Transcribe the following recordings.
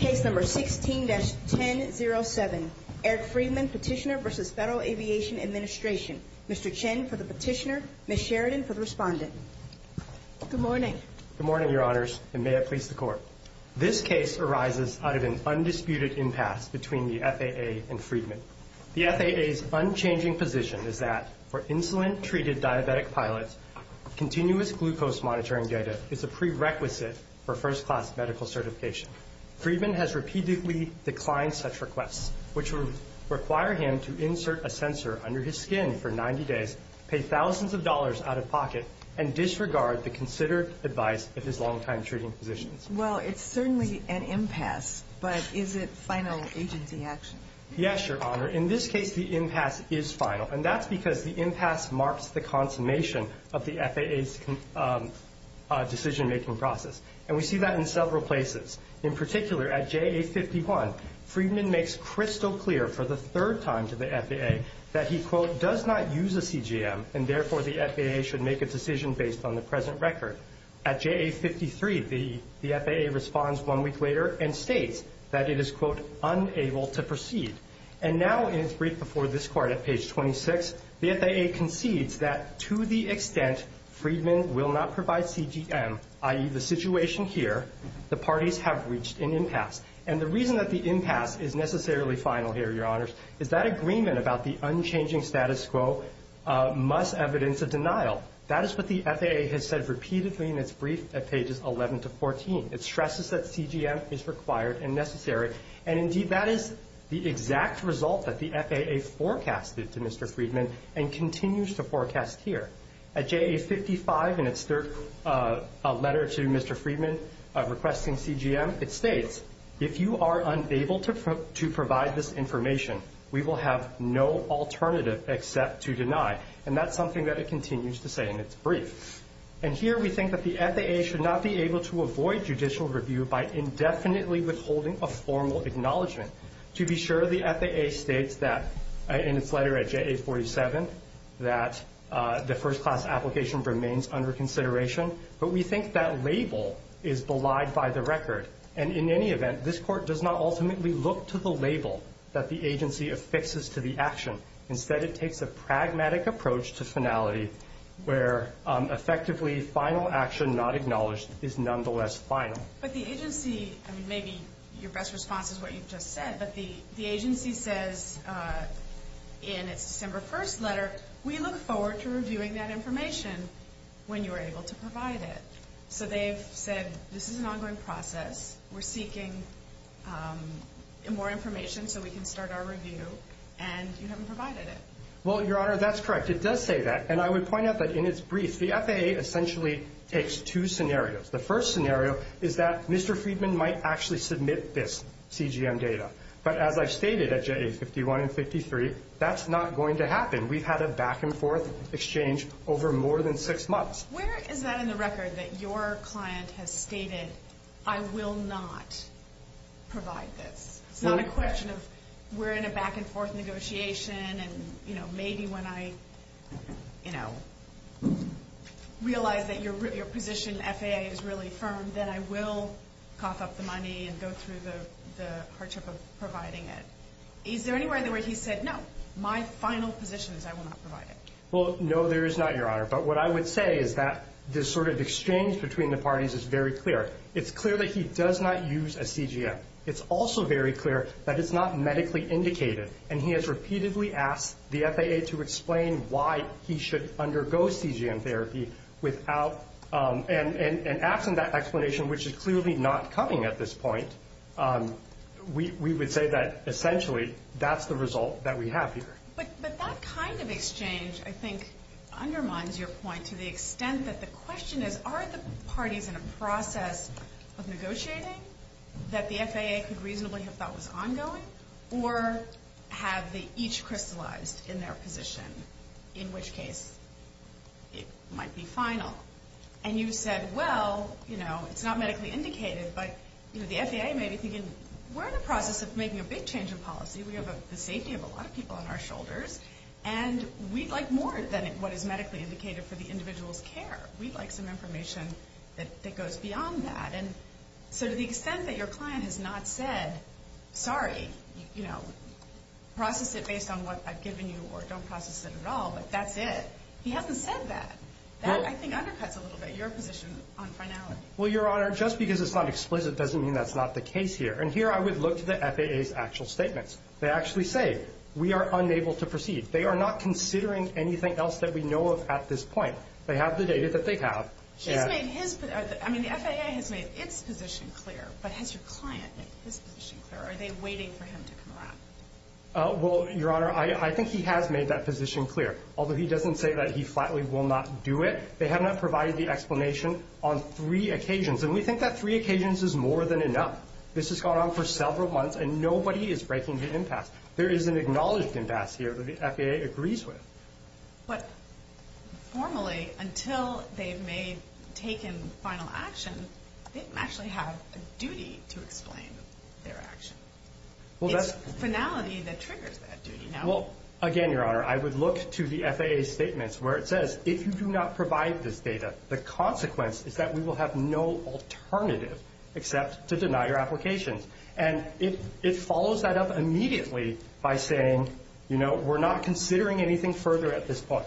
Case number 16-1007. Eric Friedman, Petitioner v. Federal Aviation Administration. Mr. Chen for the Petitioner, Ms. Sheridan for the Respondent. Good morning. Good morning, Your Honors, and may it please the Court. This case arises out of an undisputed impasse between the FAA and Friedman. The FAA's unchanging position is that, for insulin-treated diabetic pilots, continuous glucose monitoring data is a prerequisite for first-class medical certification. Friedman has repeatedly declined such requests, which would require him to insert a sensor under his skin for 90 days, pay thousands of dollars out of pocket, and disregard the considered advice of his long-time treating physicians. Well, it's certainly an impasse, but is it final agency action? Yes, Your Honor. In this case, the impasse is final, and that's because the impasse marks the consummation of the FAA's decision-making process, and we see that in several places. In particular, at JA-51, Friedman makes crystal clear for the third time to the FAA that he, quote, does not use a CGM, and therefore the FAA should make a decision based on the present record. At JA-53, the FAA responds one week later and states that it is, quote, unable to proceed. And now, in its brief before this Court at page 26, the FAA concedes that, to the extent Friedman will not provide CGM, i.e., the situation here, the parties have reached an impasse. And the reason that the impasse is necessarily final here, Your Honors, is that agreement about the unchanging status quo must evidence a denial. That is what the FAA has said repeatedly in its brief at pages 11 to 14. It stresses that CGM is required and necessary, and, indeed, that is the exact result that the FAA forecasted to Mr. Friedman and continues to forecast here. At JA-55, in its third letter to Mr. Friedman requesting CGM, it states, if you are unable to provide this information, we will have no alternative except to deny. And that's something that it continues to say in its brief. And here we think that the FAA should not be able to avoid judicial review by indefinitely withholding a formal acknowledgment. To be sure, the FAA states that, in its letter at JA-47, that the first-class application remains under consideration. But we think that label is belied by the record. And, in any event, this Court does not ultimately look to the label that the agency affixes to the action. Instead, it takes a pragmatic approach to finality where, effectively, final action not acknowledged is nonetheless final. But the agency, I mean, maybe your best response is what you've just said, but the agency says in its September 1st letter, we look forward to reviewing that information when you are able to provide it. So they've said, this is an ongoing process. We're seeking more information so we can start our review. And you haven't provided it. Well, Your Honor, that's correct. It does say that. And I would point out that, in its brief, the FAA essentially takes two scenarios. The first scenario is that Mr. Friedman might actually submit this CGM data. But, as I've stated at JA-51 and 53, that's not going to happen. We've had a back-and-forth exchange over more than six months. Where is that in the record that your client has stated, I will not provide this? It's not a question of we're in a back-and-forth negotiation, and maybe when I realize that your position in FAA is really firm, then I will cough up the money and go through the hardship of providing it. Is there anywhere where he said, no, my final position is I will not provide it? Well, no, there is not, Your Honor. But what I would say is that this sort of exchange between the parties is very clear. It's clear that he does not use a CGM. It's also very clear that it's not medically indicated, and he has repeatedly asked the FAA to explain why he should undergo CGM therapy without and absent that explanation, which is clearly not coming at this point, we would say that, essentially, that's the result that we have here. But that kind of exchange, I think, undermines your point to the extent that the question is, are the parties in a process of negotiating that the FAA could reasonably have thought was ongoing or have they each crystallized in their position, in which case it might be final? And you said, well, you know, it's not medically indicated, but, you know, the FAA may be thinking we're in the process of making a big change in policy. We have the safety of a lot of people on our shoulders, and we'd like more than what is medically indicated for the individual's care. We'd like some information that goes beyond that. And so to the extent that your client has not said, sorry, you know, process it based on what I've given you or don't process it at all, like that's it, he hasn't said that. That, I think, undercuts a little bit your position on finality. Well, Your Honor, just because it's not explicit doesn't mean that's not the case here. And here I would look to the FAA's actual statements. They actually say we are unable to proceed. They are not considering anything else that we know of at this point. They have the data that they have. She's made his – I mean, the FAA has made its position clear, but has your client made his position clear? Are they waiting for him to come around? Well, Your Honor, I think he has made that position clear, although he doesn't say that he flatly will not do it. They have not provided the explanation on three occasions, and we think that three occasions is more than enough. This has gone on for several months, and nobody is breaking the impasse. There is an acknowledged impasse here that the FAA agrees with. But formally, until they've made – taken final action, they don't actually have a duty to explain their action. It's finality that triggers that duty now. Well, again, Your Honor, I would look to the FAA's statements where it says, if you do not provide this data, the consequence is that we will have no alternative except to deny your application. And it follows that up immediately by saying, you know, we're not considering anything further at this point.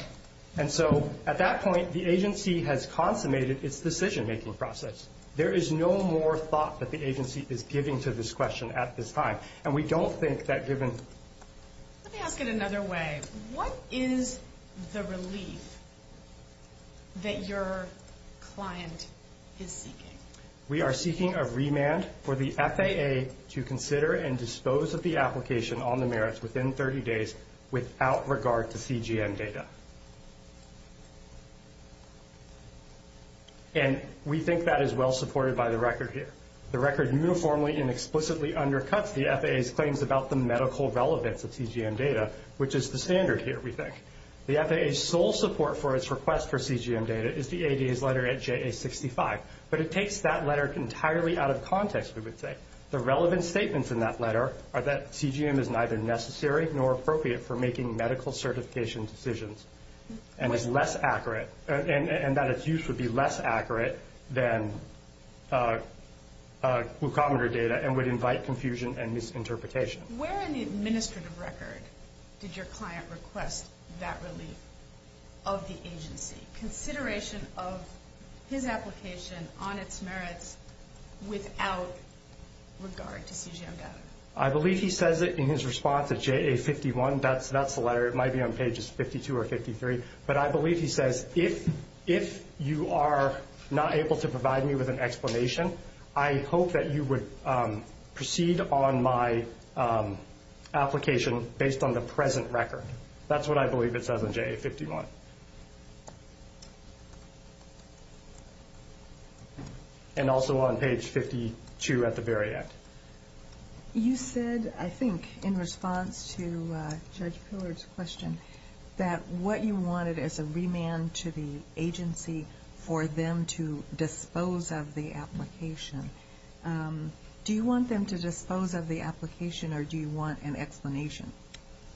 And so at that point, the agency has consummated its decision-making process. There is no more thought that the agency is giving to this question at this time, and we don't think that given – Let me ask it another way. What is the relief that your client is seeking? We are seeking a remand for the FAA to consider and dispose of the application on the merits within 30 days without regard to CGM data. And we think that is well supported by the record here. The record uniformly and explicitly undercuts the FAA's claims about the medical relevance of CGM data, which is the standard here, we think. The FAA's sole support for its request for CGM data is the ADA's letter at JA65. But it takes that letter entirely out of context, we would say. The relevant statements in that letter are that CGM is neither necessary nor appropriate for making medical certification decisions and is less accurate and that its use would be less accurate than glucometer data and would invite confusion and misinterpretation. Where in the administrative record did your client request that relief of the agency? Consideration of his application on its merits without regard to CGM data. I believe he says it in his response at JA51. That's the letter. It might be on pages 52 or 53. But I believe he says, if you are not able to provide me with an explanation, I hope that you would proceed on my application based on the present record. That's what I believe it says on JA51. And also on page 52 at the very end. You said, I think, in response to Judge Pillard's question, that what you wanted is a remand to the agency for them to dispose of the application. Do you want them to dispose of the application or do you want an explanation?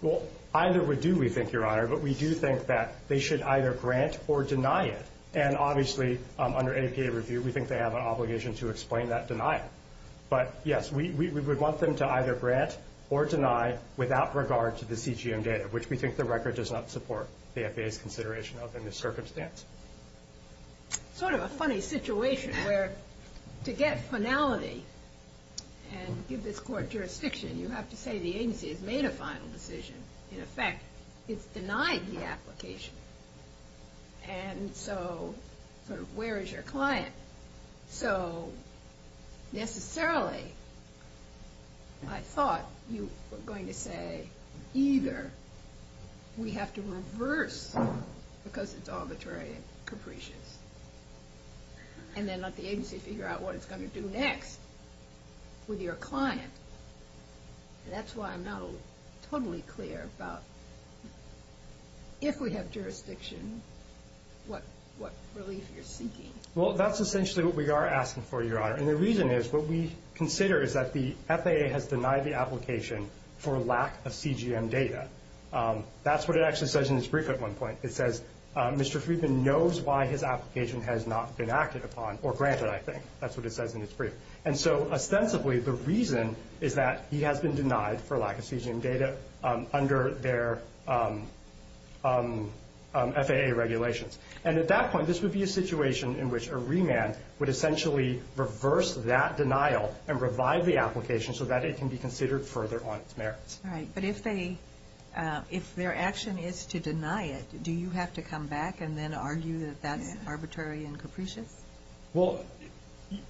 Well, either would do, we think, Your Honor. But we do think that they should either grant or deny it. And obviously, under APA review, we think they have an obligation to explain that denial. But, yes, we would want them to either grant or deny without regard to the CGM data, which we think the record does not support the FAA's consideration of in this circumstance. Sort of a funny situation where to get finality and give this court jurisdiction, you have to say the agency has made a final decision. In effect, it's denied the application. And so, sort of, where is your client? So, necessarily, I thought you were going to say either we have to reverse, because it's arbitrary and capricious, and then let the agency figure out what it's going to do next with your client. That's why I'm not totally clear about if we have jurisdiction, what relief you're seeking. Well, that's essentially what we are asking for, Your Honor. And the reason is what we consider is that the FAA has denied the application for lack of CGM data. That's what it actually says in its brief at one point. It says, Mr. Friedman knows why his application has not been acted upon, or granted, I think. That's what it says in its brief. And so, ostensibly, the reason is that he has been denied for lack of CGM data under their FAA regulations. And at that point, this would be a situation in which a remand would essentially reverse that denial and revive the application so that it can be considered further on its merits. All right. But if their action is to deny it, do you have to come back and then argue that that's arbitrary and capricious? Well,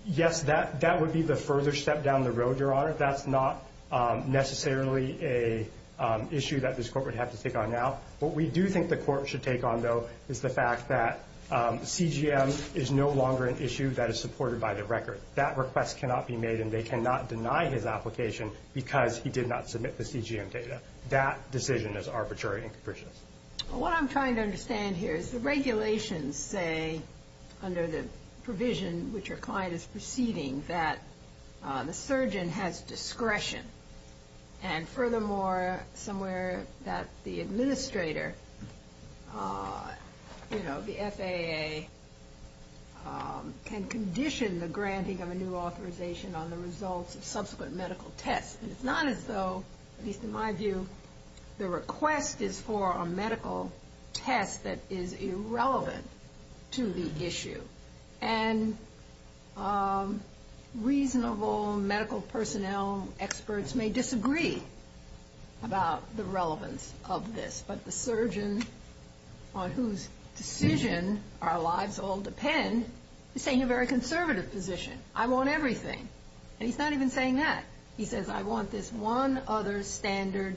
yes, that would be the further step down the road, Your Honor. That's not necessarily an issue that this court would have to take on now. What we do think the court should take on, though, is the fact that CGM is no longer an issue that is supported by the record. That request cannot be made and they cannot deny his application because he did not submit the CGM data. That decision is arbitrary and capricious. What I'm trying to understand here is the regulations say, under the provision which your client is proceeding, that the surgeon has discretion. And furthermore, somewhere that the administrator, you know, the FAA, can condition the granting of a new authorization on the results of subsequent medical tests. And it's not as though, at least in my view, the request is for a medical test that is irrelevant to the issue. And reasonable medical personnel experts may disagree about the relevance of this. But the surgeon on whose decision our lives all depend is saying a very conservative position. I want everything. And he's not even saying that. He says, I want this one other standard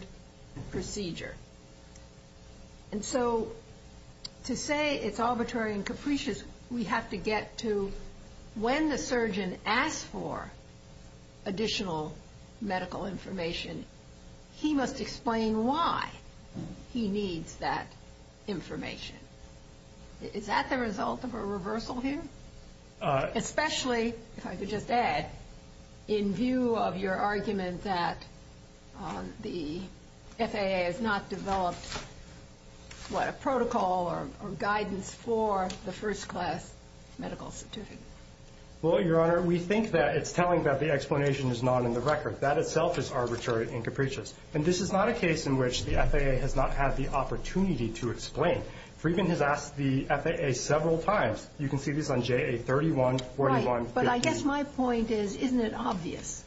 procedure. And so to say it's arbitrary and capricious, we have to get to when the surgeon asks for additional medical information, he must explain why he needs that information. Is that the result of a reversal here? Especially, if I could just add, in view of your argument that the FAA has not developed, what, a protocol or guidance for the first class medical certificate. Well, Your Honor, we think that it's telling that the explanation is not in the record. That itself is arbitrary and capricious. And this is not a case in which the FAA has not had the opportunity to explain. Friedman has asked the FAA several times. You can see this on JA-31-41-15. Right, but I guess my point is, isn't it obvious?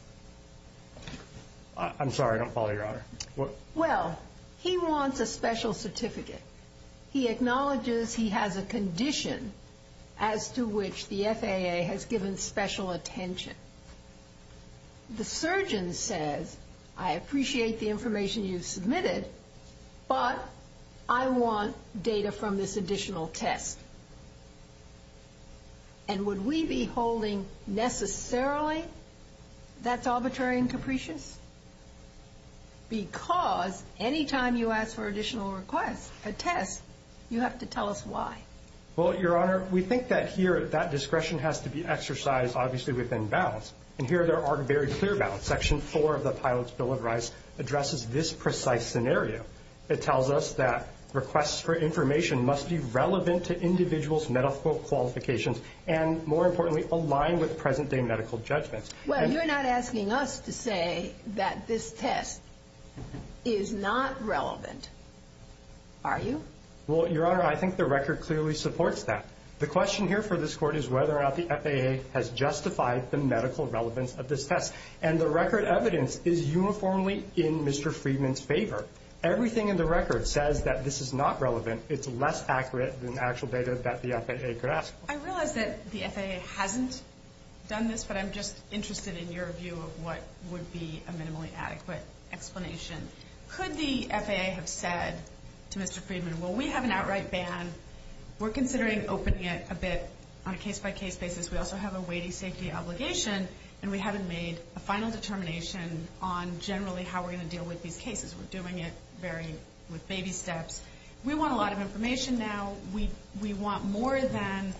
I'm sorry, I don't follow, Your Honor. Well, he wants a special certificate. He acknowledges he has a condition as to which the FAA has given special attention. The surgeon says, I appreciate the information you've submitted, but I want data from this additional test. And would we be holding necessarily that's arbitrary and capricious? Because any time you ask for additional requests, a test, you have to tell us why. Well, Your Honor, we think that here that discretion has to be exercised, obviously, within bounds. And here there are very clear bounds. Section 4 of the Pilots' Bill of Rights addresses this precise scenario. It tells us that requests for information must be relevant to individuals' medical qualifications and, more importantly, align with present-day medical judgments. Well, you're not asking us to say that this test is not relevant, are you? Well, Your Honor, I think the record clearly supports that. The question here for this Court is whether or not the FAA has justified the medical relevance of this test. And the record evidence is uniformly in Mr. Friedman's favor. Everything in the record says that this is not relevant. It's less accurate than actual data that the FAA could ask for. I realize that the FAA hasn't done this, but I'm just interested in your view of what would be a minimally adequate explanation. Could the FAA have said to Mr. Friedman, well, we have an outright ban, we're considering opening it a bit on a case-by-case basis, we also have a weighty safety obligation, and we haven't made a final determination on generally how we're going to deal with these cases. We're doing it with baby steps. We want a lot of information now. We want more than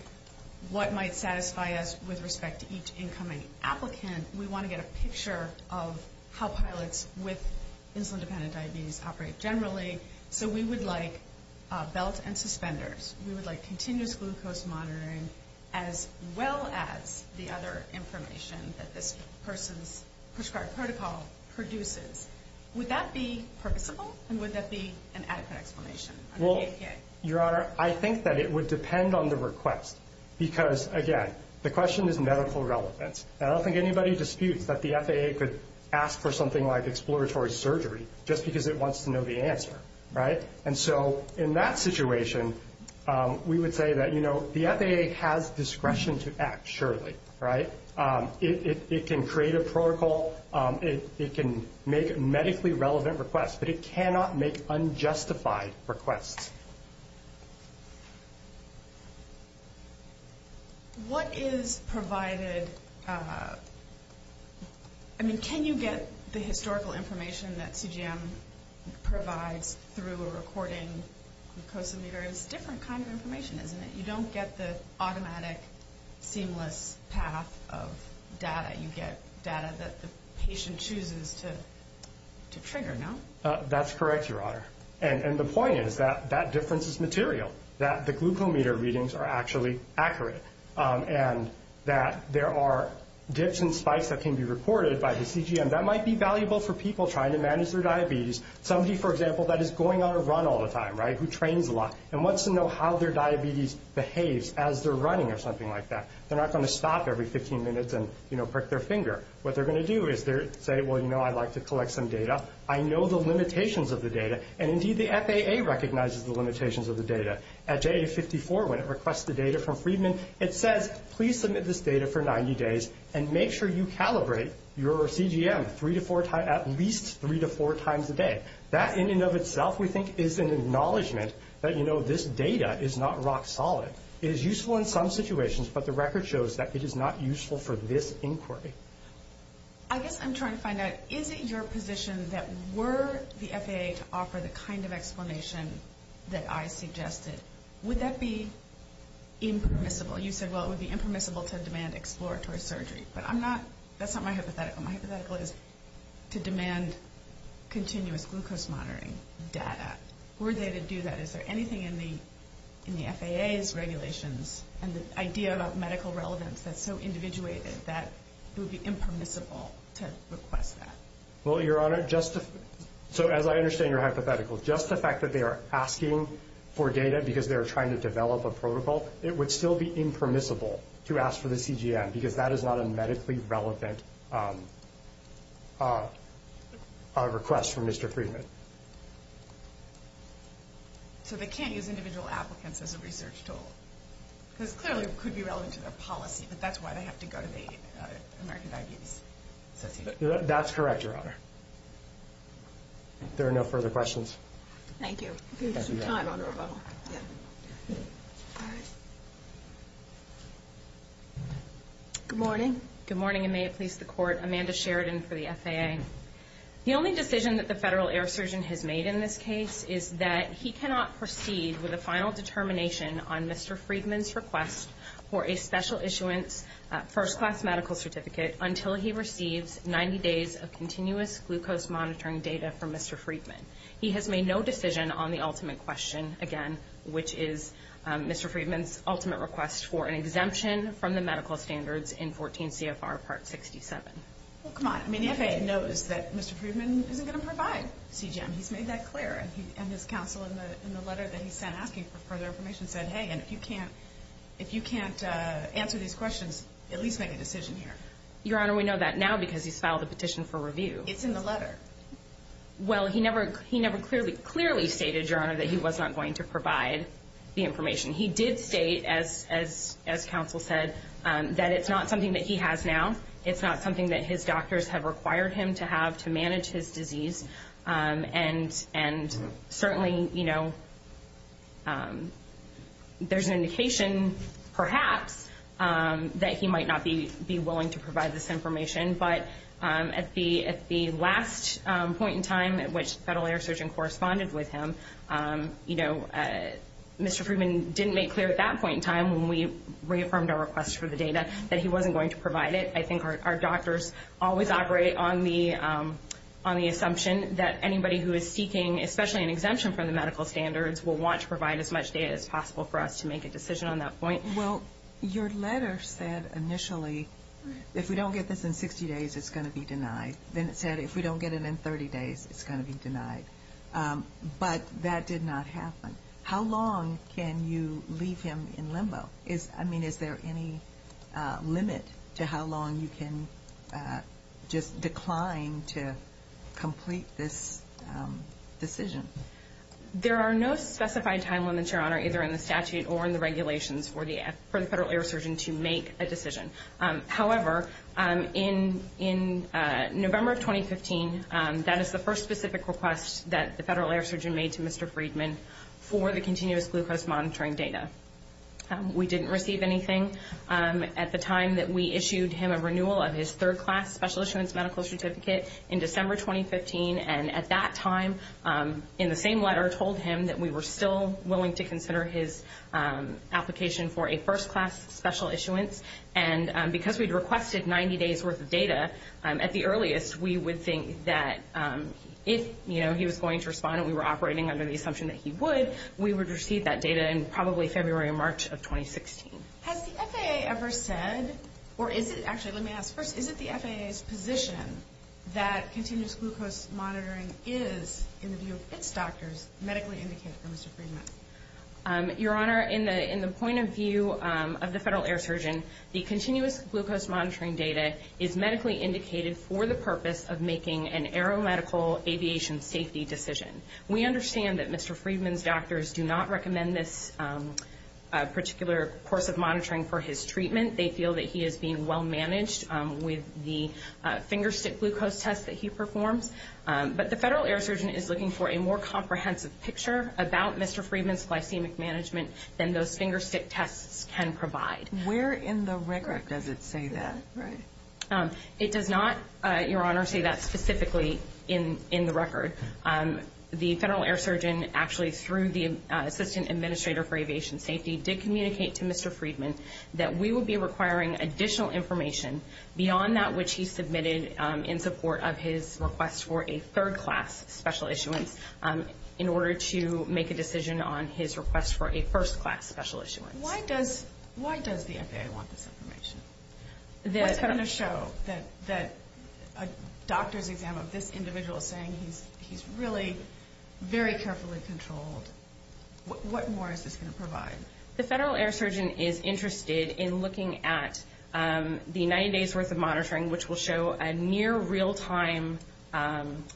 what might satisfy us with respect to each incoming applicant. We want to get a picture of how pilots with insulin-dependent diabetes operate generally. So we would like belt and suspenders. We would like continuous glucose monitoring, as well as the other information that this person's prescribed protocol produces. Would that be purposeful, and would that be an adequate explanation? Well, Your Honor, I think that it would depend on the request. Because, again, the question is medical relevance. I don't think anybody disputes that the FAA could ask for something like exploratory surgery just because it wants to know the answer. And so in that situation, we would say that the FAA has discretion to act, surely. It can create a protocol, it can make medically relevant requests, but it cannot make unjustified requests. Next. What is provided? I mean, can you get the historical information that CGM provides through a recording glucose emitter? It's a different kind of information, isn't it? You don't get the automatic, seamless path of data. You get data that the patient chooses to trigger, no? That's correct, Your Honor. And the point is that that difference is material, that the glucometer readings are actually accurate, and that there are dips and spikes that can be recorded by the CGM. That might be valuable for people trying to manage their diabetes. Somebody, for example, that is going on a run all the time, right, who trains a lot, and wants to know how their diabetes behaves as they're running or something like that. They're not going to stop every 15 minutes and, you know, prick their finger. What they're going to do is say, well, you know, I'd like to collect some data. I know the limitations of the data. And, indeed, the FAA recognizes the limitations of the data. At JA-54, when it requests the data from Friedman, it says, please submit this data for 90 days and make sure you calibrate your CGM at least three to four times a day. That, in and of itself, we think, is an acknowledgment that, you know, this data is not rock solid. It is useful in some situations, but the record shows that it is not useful for this inquiry. I guess I'm trying to find out, is it your position that were the FAA to offer the kind of explanation that I suggested, would that be impermissible? You said, well, it would be impermissible to demand exploratory surgery. But I'm not, that's not my hypothetical. My hypothetical is to demand continuous glucose monitoring data. Were they to do that? Is there anything in the FAA's regulations and the idea about medical relevance that's so individuated that it would be impermissible to request that? Well, Your Honor, just to, so as I understand your hypothetical, just the fact that they are asking for data because they are trying to develop a protocol, it would still be impermissible to ask for the CGM because that is not a medically relevant request from Mr. Friedman. So they can't use individual applicants as a research tool? Because clearly it could be relevant to their policy, but that's why they have to go to the American Diabetes Association. That's correct, Your Honor. There are no further questions. Thank you. Thank you, Your Honor. Good morning. Good morning, and may it please the Court. Amanda Sheridan for the FAA. The only decision that the Federal Air Surgeon has made in this case is that he cannot proceed with a final determination on Mr. Friedman's request for a special issuance first-class medical certificate until he receives 90 days of continuous glucose monitoring data from Mr. Friedman. He has made no decision on the ultimate question, again, which is Mr. Friedman's ultimate request for an exemption from the medical standards in 14 CFR Part 67. Well, come on. The FAA knows that Mr. Friedman isn't going to provide CGM. He's made that clear, and his counsel in the letter that he sent asking for further information said, hey, if you can't answer these questions, at least make a decision here. Your Honor, we know that now because he's filed a petition for review. It's in the letter. Well, he never clearly stated, Your Honor, that he was not going to provide the information. He did state, as counsel said, that it's not something that he has now. It's not something that his doctors have required him to have to manage his disease. And certainly, you know, there's an indication, perhaps, that he might not be willing to provide this information. But at the last point in time at which the federal air surgeon corresponded with him, you know, Mr. Friedman didn't make clear at that point in time when we reaffirmed our request for the data that he wasn't going to provide it. I think our doctors always operate on the assumption that anybody who is seeking, especially an exemption from the medical standards, will want to provide as much data as possible for us to make a decision on that point. Well, your letter said initially if we don't get this in 60 days, it's going to be denied. Then it said if we don't get it in 30 days, it's going to be denied. But that did not happen. How long can you leave him in limbo? I mean, is there any limit to how long you can just decline to complete this decision? There are no specified time limits, Your Honor, either in the statute or in the regulations for the federal air surgeon to make a decision. However, in November of 2015, that is the first specific request that the federal air surgeon made to Mr. Friedman for the continuous glucose monitoring data. We didn't receive anything at the time that we issued him a renewal of his third-class special issuance medical certificate in December 2015, and at that time, in the same letter, told him that we were still willing to consider his application for a first-class special issuance. And because we'd requested 90 days' worth of data at the earliest, we would think that if he was going to respond and we were operating under the assumption that he would, we would receive that data in probably February or March of 2016. Has the FAA ever said, or is it—actually, let me ask first, is it the FAA's position that continuous glucose monitoring is, in the view of its doctors, medically indicated for Mr. Friedman? Your Honor, in the point of view of the federal air surgeon, the continuous glucose monitoring data is medically indicated for the purpose of making an aeromedical aviation safety decision. We understand that Mr. Friedman's doctors do not recommend this particular course of monitoring for his treatment. They feel that he is being well-managed with the finger-stick glucose test that he performs. But the federal air surgeon is looking for a more comprehensive picture about Mr. Friedman's glycemic management than those finger-stick tests can provide. Where in the record does it say that? It does not, Your Honor, say that specifically in the record. The federal air surgeon actually, through the assistant administrator for aviation safety, did communicate to Mr. Friedman that we would be requiring additional information beyond that which he submitted in support of his request for a third-class special issuance in order to make a decision on his request for a first-class special issuance. Why does the FAA want this information? What's going to show that a doctor's exam of this individual is saying he's really very carefully controlled? What more is this going to provide? The federal air surgeon is interested in looking at the 90 days' worth of monitoring, which will show a near real-time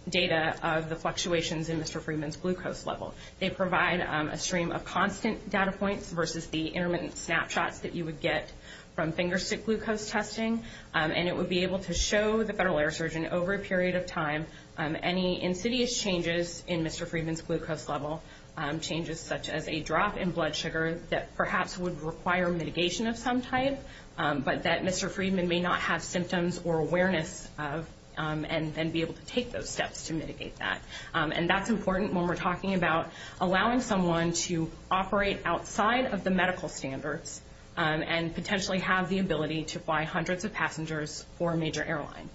data of the fluctuations in Mr. Friedman's glucose level. They provide a stream of constant data points versus the intermittent snapshots that you would get from finger-stick glucose testing. And it would be able to show the federal air surgeon over a period of time any insidious changes in Mr. Friedman's glucose level, changes such as a drop in blood sugar that perhaps would require mitigation of some type, but that Mr. Friedman may not have symptoms or awareness of and then be able to take those steps to mitigate that. And that's important when we're talking about allowing someone to operate outside of the medical standards and potentially have the ability to fly hundreds of passengers for a major airline.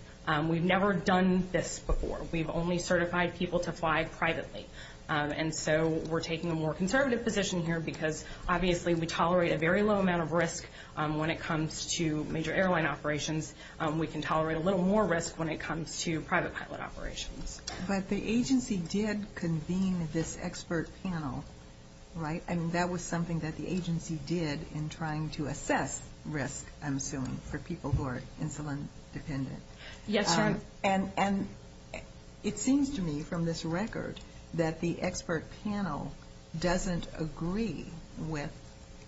We've never done this before. We've only certified people to fly privately. And so we're taking a more conservative position here because obviously we tolerate a very low amount of risk when it comes to major airline operations. We can tolerate a little more risk when it comes to private pilot operations. But the agency did convene this expert panel, right? And that was something that the agency did in trying to assess risk, I'm assuming, for people who are insulin-dependent. Yes, ma'am. And it seems to me from this record that the expert panel doesn't agree with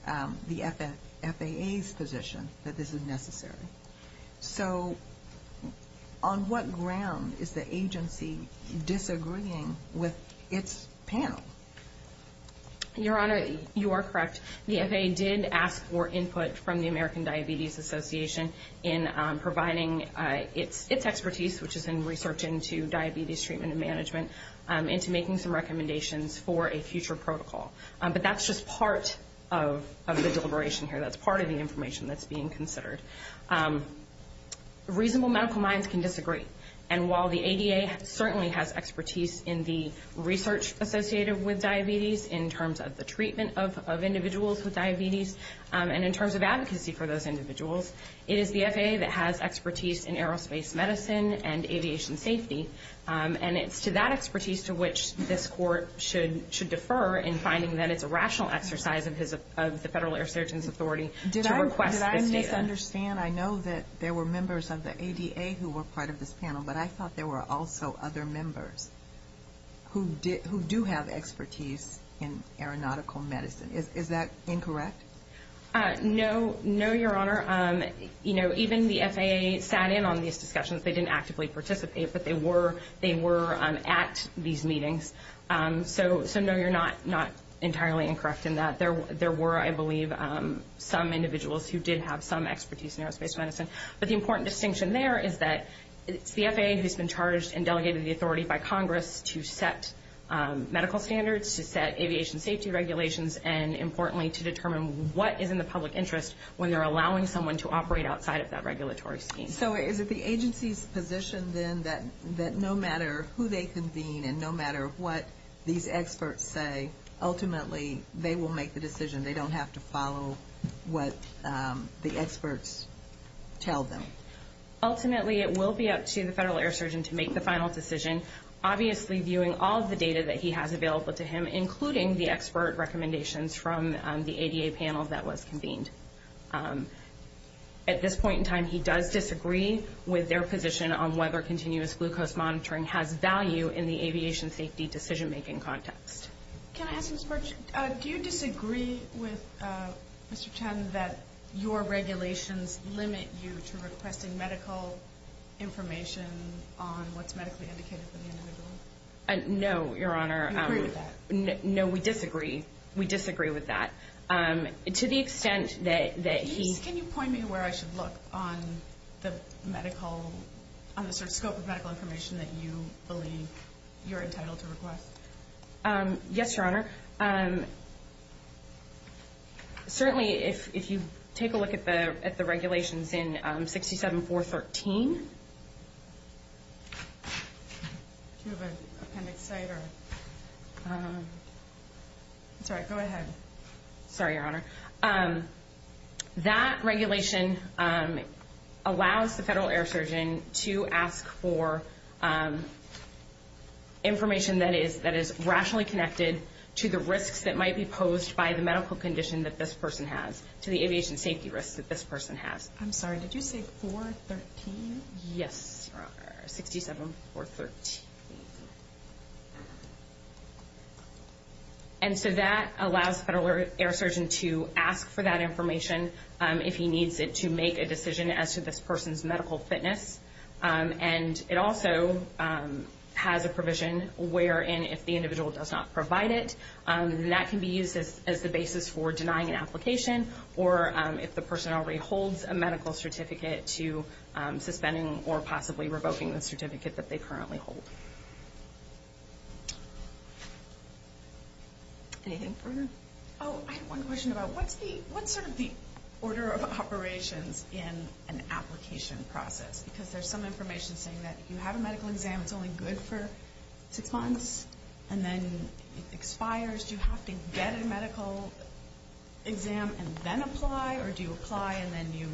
the FAA's position that this is necessary. So on what ground is the agency disagreeing with its panel? Your Honor, you are correct. The FAA did ask for input from the American Diabetes Association in providing its expertise, which is in research into diabetes treatment and management, into making some recommendations for a future protocol. But that's just part of the deliberation here. That's part of the information that's being considered. Reasonable medical minds can disagree. And while the ADA certainly has expertise in the research associated with diabetes, in terms of the treatment of individuals with diabetes, and in terms of advocacy for those individuals, it is the FAA that has expertise in aerospace medicine and aviation safety. And it's to that expertise to which this Court should defer in finding that it's a rational exercise of the Federal Air Surgeon's authority to request this data. Did I misunderstand? I know that there were members of the ADA who were part of this panel, but I thought there were also other members who do have expertise in aeronautical medicine. Is that incorrect? No. No, Your Honor. Even the FAA sat in on these discussions. They didn't actively participate, but they were at these meetings. So no, you're not entirely incorrect in that. There were, I believe, some individuals who did have some expertise in aerospace medicine. But the important distinction there is that it's the FAA who's been charged and delegated the authority by Congress to set medical standards, to set aviation safety regulations, and, importantly, to determine what is in the public interest when they're allowing someone to operate outside of that regulatory scheme. So is it the agency's position then that no matter who they convene and no matter what these experts say, ultimately they will make the decision? They don't have to follow what the experts tell them? Ultimately, it will be up to the Federal Air Surgeon to make the final decision, obviously viewing all of the data that he has available to him, including the expert recommendations from the ADA panel that was convened. At this point in time, he does disagree with their position on whether Can I ask a question? Do you disagree with Mr. Chen that your regulations limit you to requesting medical information on what's medically indicated for the individual? No, Your Honor. You agree with that? No, we disagree. We disagree with that. To the extent that he Can you point me where I should look on the medical, on the sort of scope of medical information that you believe you're entitled to request? Yes, Your Honor. Certainly, if you take a look at the regulations in 67-413. Do you have an appendix site? That's all right, go ahead. Sorry, Your Honor. That regulation allows the Federal Air Surgeon to ask for information that is rationally connected to the risks that might be posed by the medical condition that this person has, to the aviation safety risks that this person has. I'm sorry, did you say 413? Yes, Your Honor, 67-413. And so that allows the Federal Air Surgeon to ask for that information if he needs it to make a decision as to this person's medical fitness. And it also has a provision wherein if the individual does not provide it, that can be used as the basis for denying an application or if the person already holds a medical certificate to suspending or possibly revoking the certificate that they currently hold. Anything further? Oh, I have one question about what's sort of the order of operations in an application process? Because there's some information saying that if you have a medical exam, it's only good for six months, and then it expires. Do you have to get a medical exam and then apply, or do you apply and then you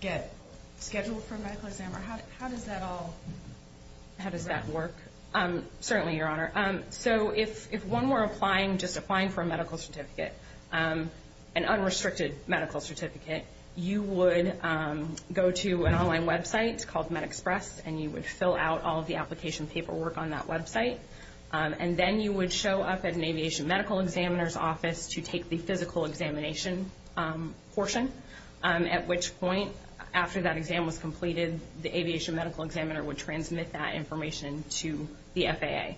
get scheduled for a medical exam? Or how does that all work? How does that work? Certainly, Your Honor. So if one were applying, just applying for a medical certificate, an unrestricted medical certificate, you would go to an online website called MedExpress, and you would fill out all of the application paperwork on that website. And then you would show up at an aviation medical examiner's office to take the physical examination portion, at which point after that exam was completed, the aviation medical examiner would transmit that information to the FAA.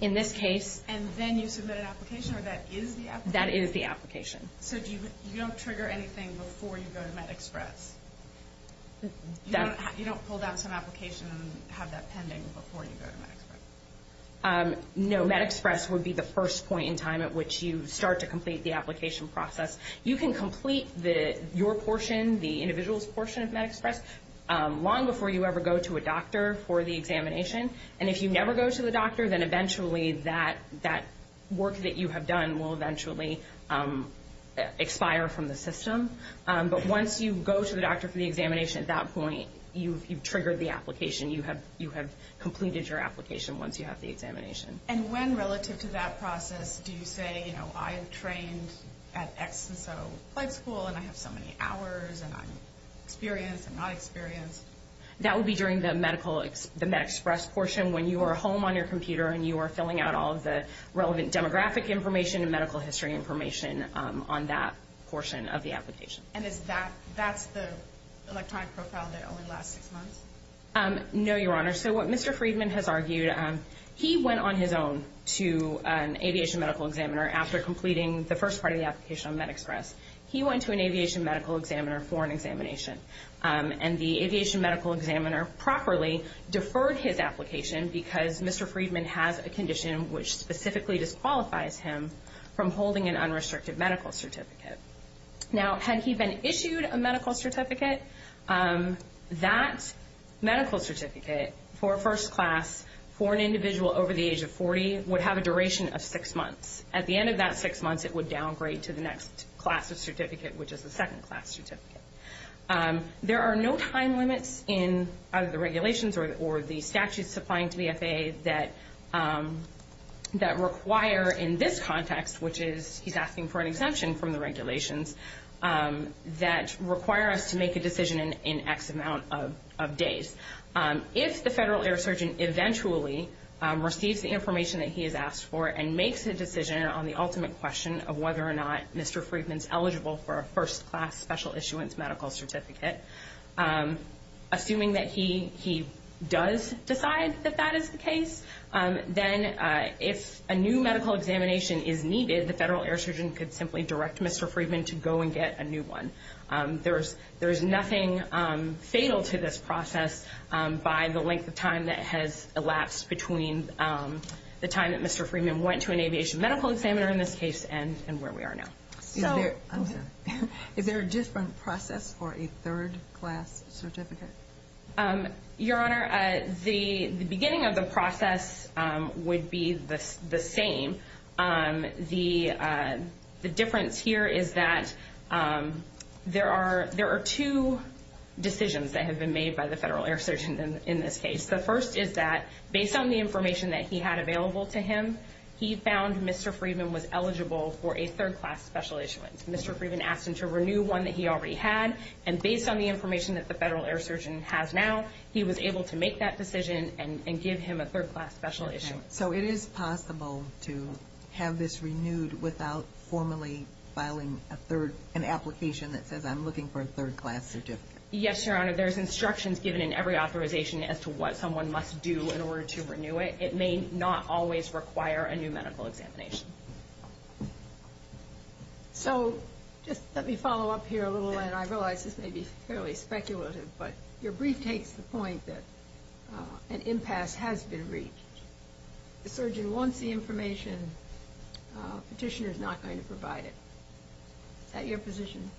In this case... And then you submit an application, or that is the application? That is the application. So you don't trigger anything before you go to MedExpress? You don't pull down some application and have that pending before you go to MedExpress? No, MedExpress would be the first point in time at which you start to complete the application process. You can complete your portion, the individual's portion of MedExpress, long before you ever go to a doctor for the examination. And if you never go to the doctor, then eventually that work that you have done will eventually expire from the system. But once you go to the doctor for the examination, at that point you've triggered the application. You have completed your application once you have the examination. And when relative to that process do you say, you know, I have trained at X and so flight school, and I have so many hours, and I'm experienced, I'm not experienced? That would be during the MedExpress portion when you are home on your computer and you are filling out all of the relevant demographic information and medical history information on that portion of the application. And is that the electronic profile that only lasts six months? No, Your Honor. So what Mr. Friedman has argued, he went on his own to an aviation medical examiner after completing the first part of the application on MedExpress. He went to an aviation medical examiner for an examination. And the aviation medical examiner properly deferred his application because Mr. Friedman has a condition which specifically disqualifies him from holding an unrestricted medical certificate. Now, had he been issued a medical certificate, that medical certificate for a first class for an individual over the age of 40 would have a duration of six months. At the end of that six months it would downgrade to the next class of certificate, which is the second class certificate. There are no time limits in either the regulations or the statutes applying to the FAA that require in this context, which is he's asking for an exemption from the regulations, that require us to make a decision in X amount of days. If the federal air surgeon eventually receives the information that he has asked for and makes a decision on the ultimate question of whether or not Mr. Friedman's eligible for a first class special issuance medical certificate, assuming that he does decide that that is the case, then if a new medical examination is needed, the federal air surgeon could simply direct Mr. Friedman to go and get a new one. There is nothing fatal to this process by the length of time that has elapsed between the time that Mr. Friedman went to an aviation medical examiner in this case and where we are now. Is there a different process for a third class certificate? Your Honor, the beginning of the process would be the same. The difference here is that there are two decisions that have been made by the federal air surgeon in this case. The first is that based on the information that he had available to him, he found Mr. Friedman was eligible for a third class special issuance. Mr. Friedman asked him to renew one that he already had, and based on the information that the federal air surgeon has now, he was able to make that decision and give him a third class special issuance. So it is possible to have this renewed without formally filing an application that says I'm looking for a third class certificate? Yes, Your Honor. There's instructions given in every authorization as to what someone must do in order to renew it. It may not always require a new medical examination. So just let me follow up here a little, and I realize this may be fairly speculative, but your brief takes the point that an impasse has been reached. The surgeon wants the information. The petitioner is not going to provide it. Is that your position?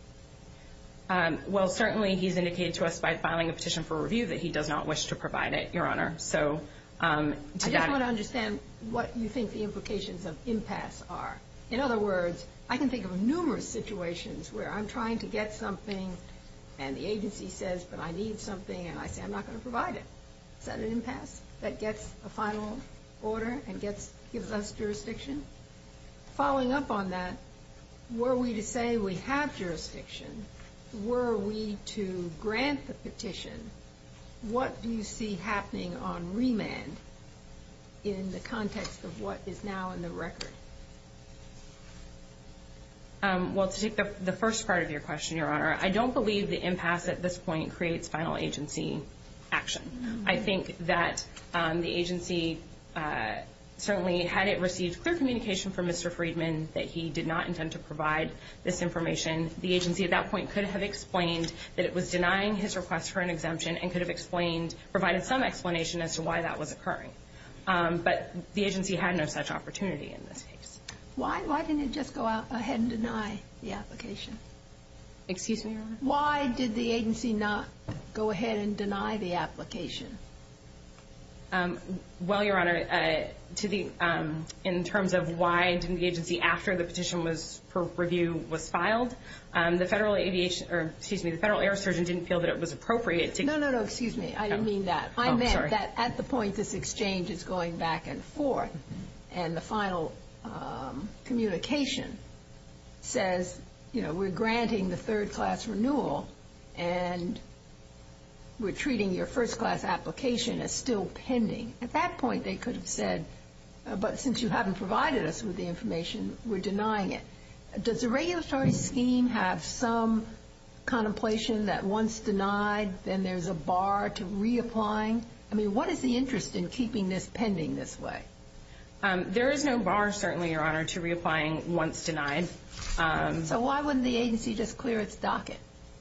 Well, certainly he's indicated to us by filing a petition for review that he does not wish to provide it, Your Honor. I just want to understand what you think the implications of impasse are. In other words, I can think of numerous situations where I'm trying to get something, and the agency says, but I need something, and I say I'm not going to provide it. Is that an impasse that gets a final order and gives us jurisdiction? Following up on that, were we to say we have jurisdiction, were we to grant the petition, what do you see happening on remand in the context of what is now in the record? Well, to take the first part of your question, Your Honor, I don't believe the impasse at this point creates final agency action. I think that the agency certainly, had it received clear communication from Mr. Friedman that he did not intend to provide this information, the agency at that point could have explained that it was denying his request for an exemption and could have provided some explanation as to why that was occurring. But the agency had no such opportunity in this case. Why didn't it just go out ahead and deny the application? Excuse me, Your Honor? Why did the agency not go ahead and deny the application? Well, Your Honor, in terms of why didn't the agency, after the petition for review was filed, the Federal Air Surgeon didn't feel that it was appropriate to No, no, no, excuse me, I didn't mean that. I meant that at the point this exchange is going back and forth and the final communication says, you know, we're granting the third-class renewal and we're treating your first-class application as still pending. At that point, they could have said, but since you haven't provided us with the information, we're denying it. Does the regulatory scheme have some contemplation that once denied, then there's a bar to reapplying? I mean, what is the interest in keeping this pending this way? There is no bar, certainly, Your Honor, to reapplying once denied. So why wouldn't the agency just clear its docket?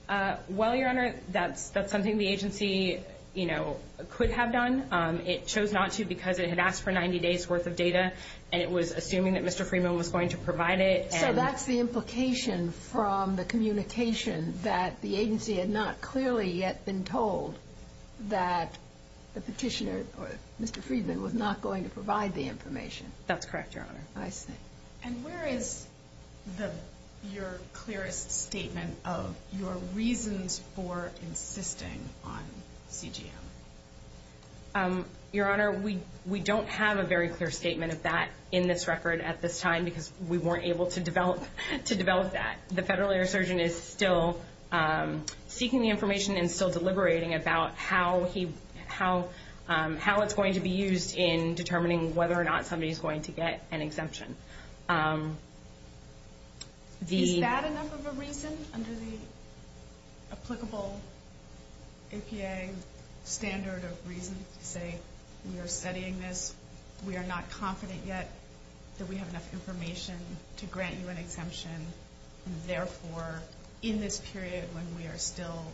Well, Your Honor, that's something the agency, you know, could have done. It chose not to because it had asked for 90 days' worth of data and it was assuming that Mr. Freeman was going to provide it. So that's the implication from the communication that the agency had not clearly yet been told that the petitioner, Mr. Freeman, was not going to provide the information. That's correct, Your Honor. I see. And where is your clearest statement of your reasons for insisting on CGM? Your Honor, we don't have a very clear statement of that in this record at this time because we weren't able to develop that. The federal lawyer-surgeon is still seeking the information and still deliberating about how it's going to be used in determining whether or not somebody is going to get an exemption. Is that enough of a reason under the applicable APA standard of reason to say, We are studying this. We are not confident yet that we have enough information to grant you an exemption. Therefore, in this period when we are still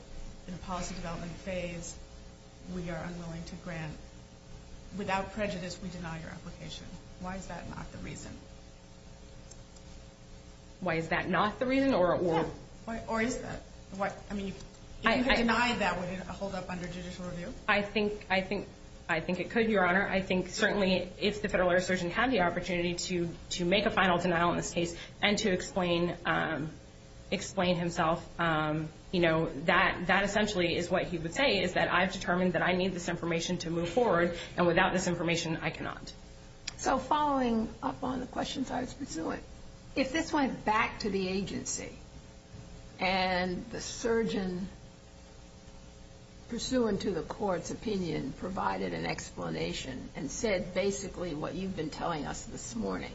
in the policy development phase, we are unwilling to grant. Without prejudice, we deny your application. Why is that not the reason? Why is that not the reason? Or is that? I mean, if you had denied that, would it hold up under judicial review? I think it could, Your Honor. I think certainly if the federal lawyer-surgeon had the opportunity to make a final denial in this case and to explain himself, that essentially is what he would say, is that I've determined that I need this information to move forward, and without this information, I cannot. So following up on the questions I was pursuing, if this went back to the agency and the surgeon, pursuant to the court's opinion, provided an explanation and said basically what you've been telling us this morning,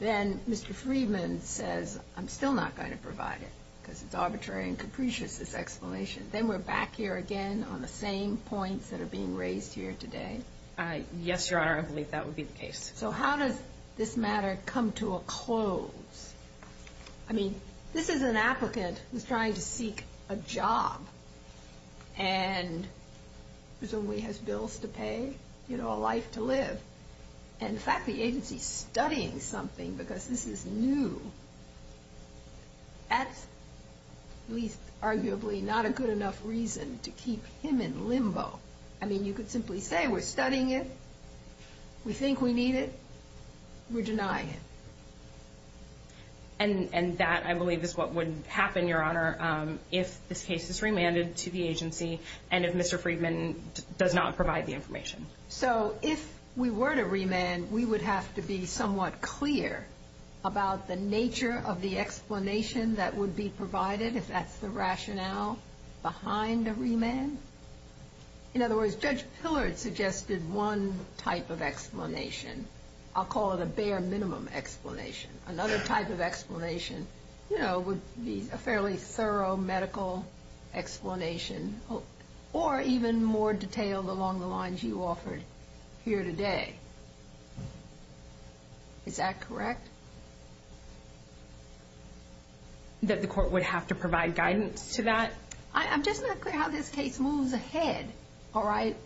then Mr. Friedman says, I'm still not going to provide it because it's arbitrary and capricious, this explanation. Then we're back here again on the same points that are being raised here today? Yes, Your Honor. I believe that would be the case. So how does this matter come to a close? I mean, this is an applicant who's trying to seek a job and presumably has bills to pay, you know, a life to live. And the fact the agency's studying something because this is new, that's at least arguably not a good enough reason to keep him in limbo. I mean, you could simply say we're studying it, we think we need it, we're denying it. And that, I believe, is what would happen, Your Honor, if this case is remanded to the agency and if Mr. Friedman does not provide the information. So if we were to remand, we would have to be somewhat clear about the nature of the explanation that would be provided, if that's the rationale behind a remand? In other words, Judge Pillard suggested one type of explanation. I'll call it a bare minimum explanation. Another type of explanation, you know, would be a fairly thorough medical explanation or even more detailed along the lines you offered here today. Is that correct? That the court would have to provide guidance to that? I'm just not clear how this case moves ahead, all right?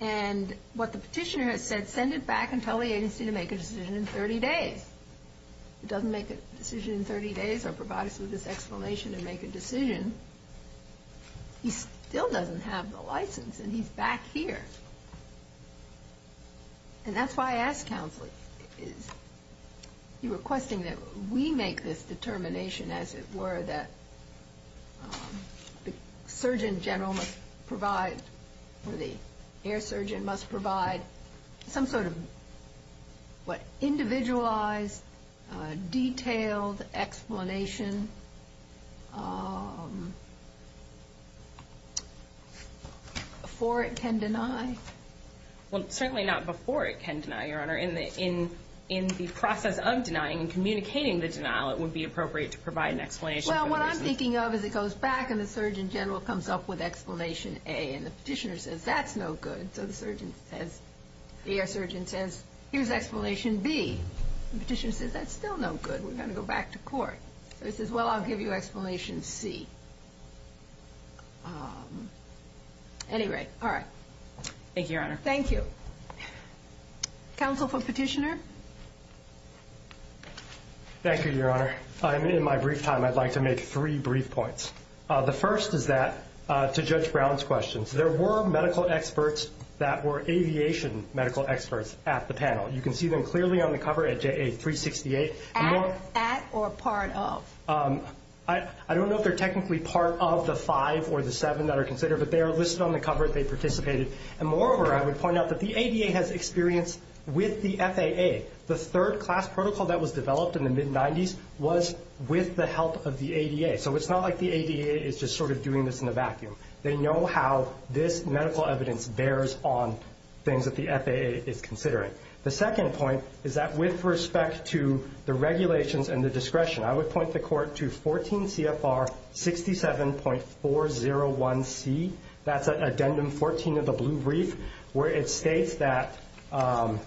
And what the petitioner has said, send it back and tell the agency to make a decision in 30 days. It doesn't make a decision in 30 days or provide us with this explanation to make a decision. He still doesn't have the license and he's back here. And that's why I asked counsel, is he requesting that we make this determination, as it were, that the surgeon general must provide or the air surgeon must provide some sort of, what, before it can deny? Well, certainly not before it can deny, Your Honor. In the process of denying and communicating the denial, it would be appropriate to provide an explanation. Well, what I'm thinking of is it goes back and the surgeon general comes up with explanation A and the petitioner says, that's no good. So the air surgeon says, here's explanation B. The petitioner says, that's still no good. We're going to go back to court. So he says, well, I'll give you explanation C. Anyway, all right. Thank you, Your Honor. Thank you. Counsel for petitioner. Thank you, Your Honor. In my brief time, I'd like to make three brief points. The first is that, to Judge Brown's questions, there were medical experts that were aviation medical experts at the panel. You can see them clearly on the cover at JA 368. At or part of? I don't know if they're technically part of the five or the seven that are considered, but they are listed on the cover. They participated. And moreover, I would point out that the ADA has experience with the FAA. The third class protocol that was developed in the mid-'90s was with the help of the ADA. So it's not like the ADA is just sort of doing this in a vacuum. They know how this medical evidence bears on things that the FAA is considering. The second point is that with respect to the regulations and the discretion, I would point the court to 14 CFR 67.401C. That's Addendum 14 of the Blue Brief, where it states that the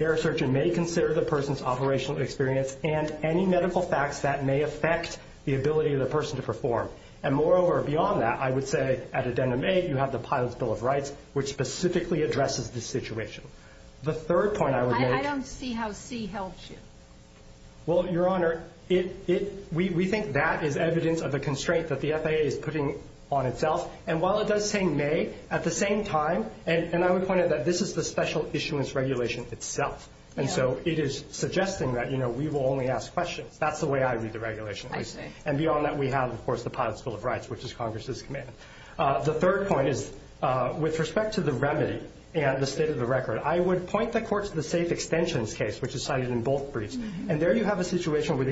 air surgeon may consider the person's operational experience and any medical facts that may affect the ability of the person to perform. And moreover, beyond that, I would say at Addendum 8, you have the Pilot's Bill of Rights, which specifically addresses this situation. The third point I would make— I don't see how C helps you. Well, Your Honor, we think that is evidence of the constraint that the FAA is putting on itself. And while it does say may, at the same time— and I would point out that this is the special issuance regulation itself. And so it is suggesting that, you know, we will only ask questions. That's the way I read the regulations. I see. And beyond that, we have, of course, the Pilot's Bill of Rights, which is Congress's command. The third point is with respect to the remedy and the state of the record, I would point the Court to the safe extensions case, which is cited in both briefs. And there you have a situation where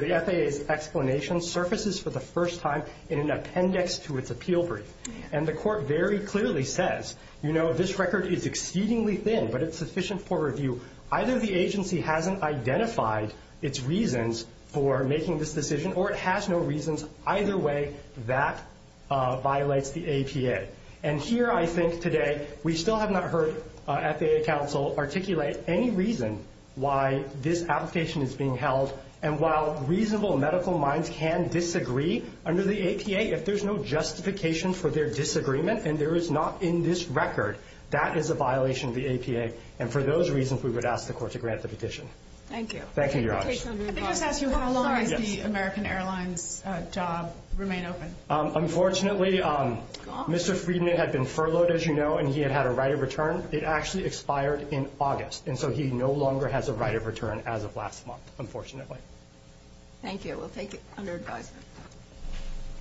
the FAA's explanation surfaces for the first time in an appendix to its appeal brief. And the Court very clearly says, you know, this record is exceedingly thin, but it's sufficient for review. Either the agency hasn't identified its reasons for making this decision, or it has no reasons. Either way, that violates the APA. And here, I think, today, we still have not heard FAA counsel articulate any reason why this application is being held. And while reasonable medical minds can disagree under the APA, if there's no justification for their disagreement and there is not in this record, that is a violation of the APA. And for those reasons, we would ask the Court to grant the petition. Thank you. Thank you, Your Honor. Let me just ask you, how long does the American Airlines job remain open? Unfortunately, Mr. Friedman had been furloughed, as you know, and he had had a right of return. It actually expired in August, and so he no longer has a right of return as of last month, unfortunately. Thank you. We'll take it under advisement.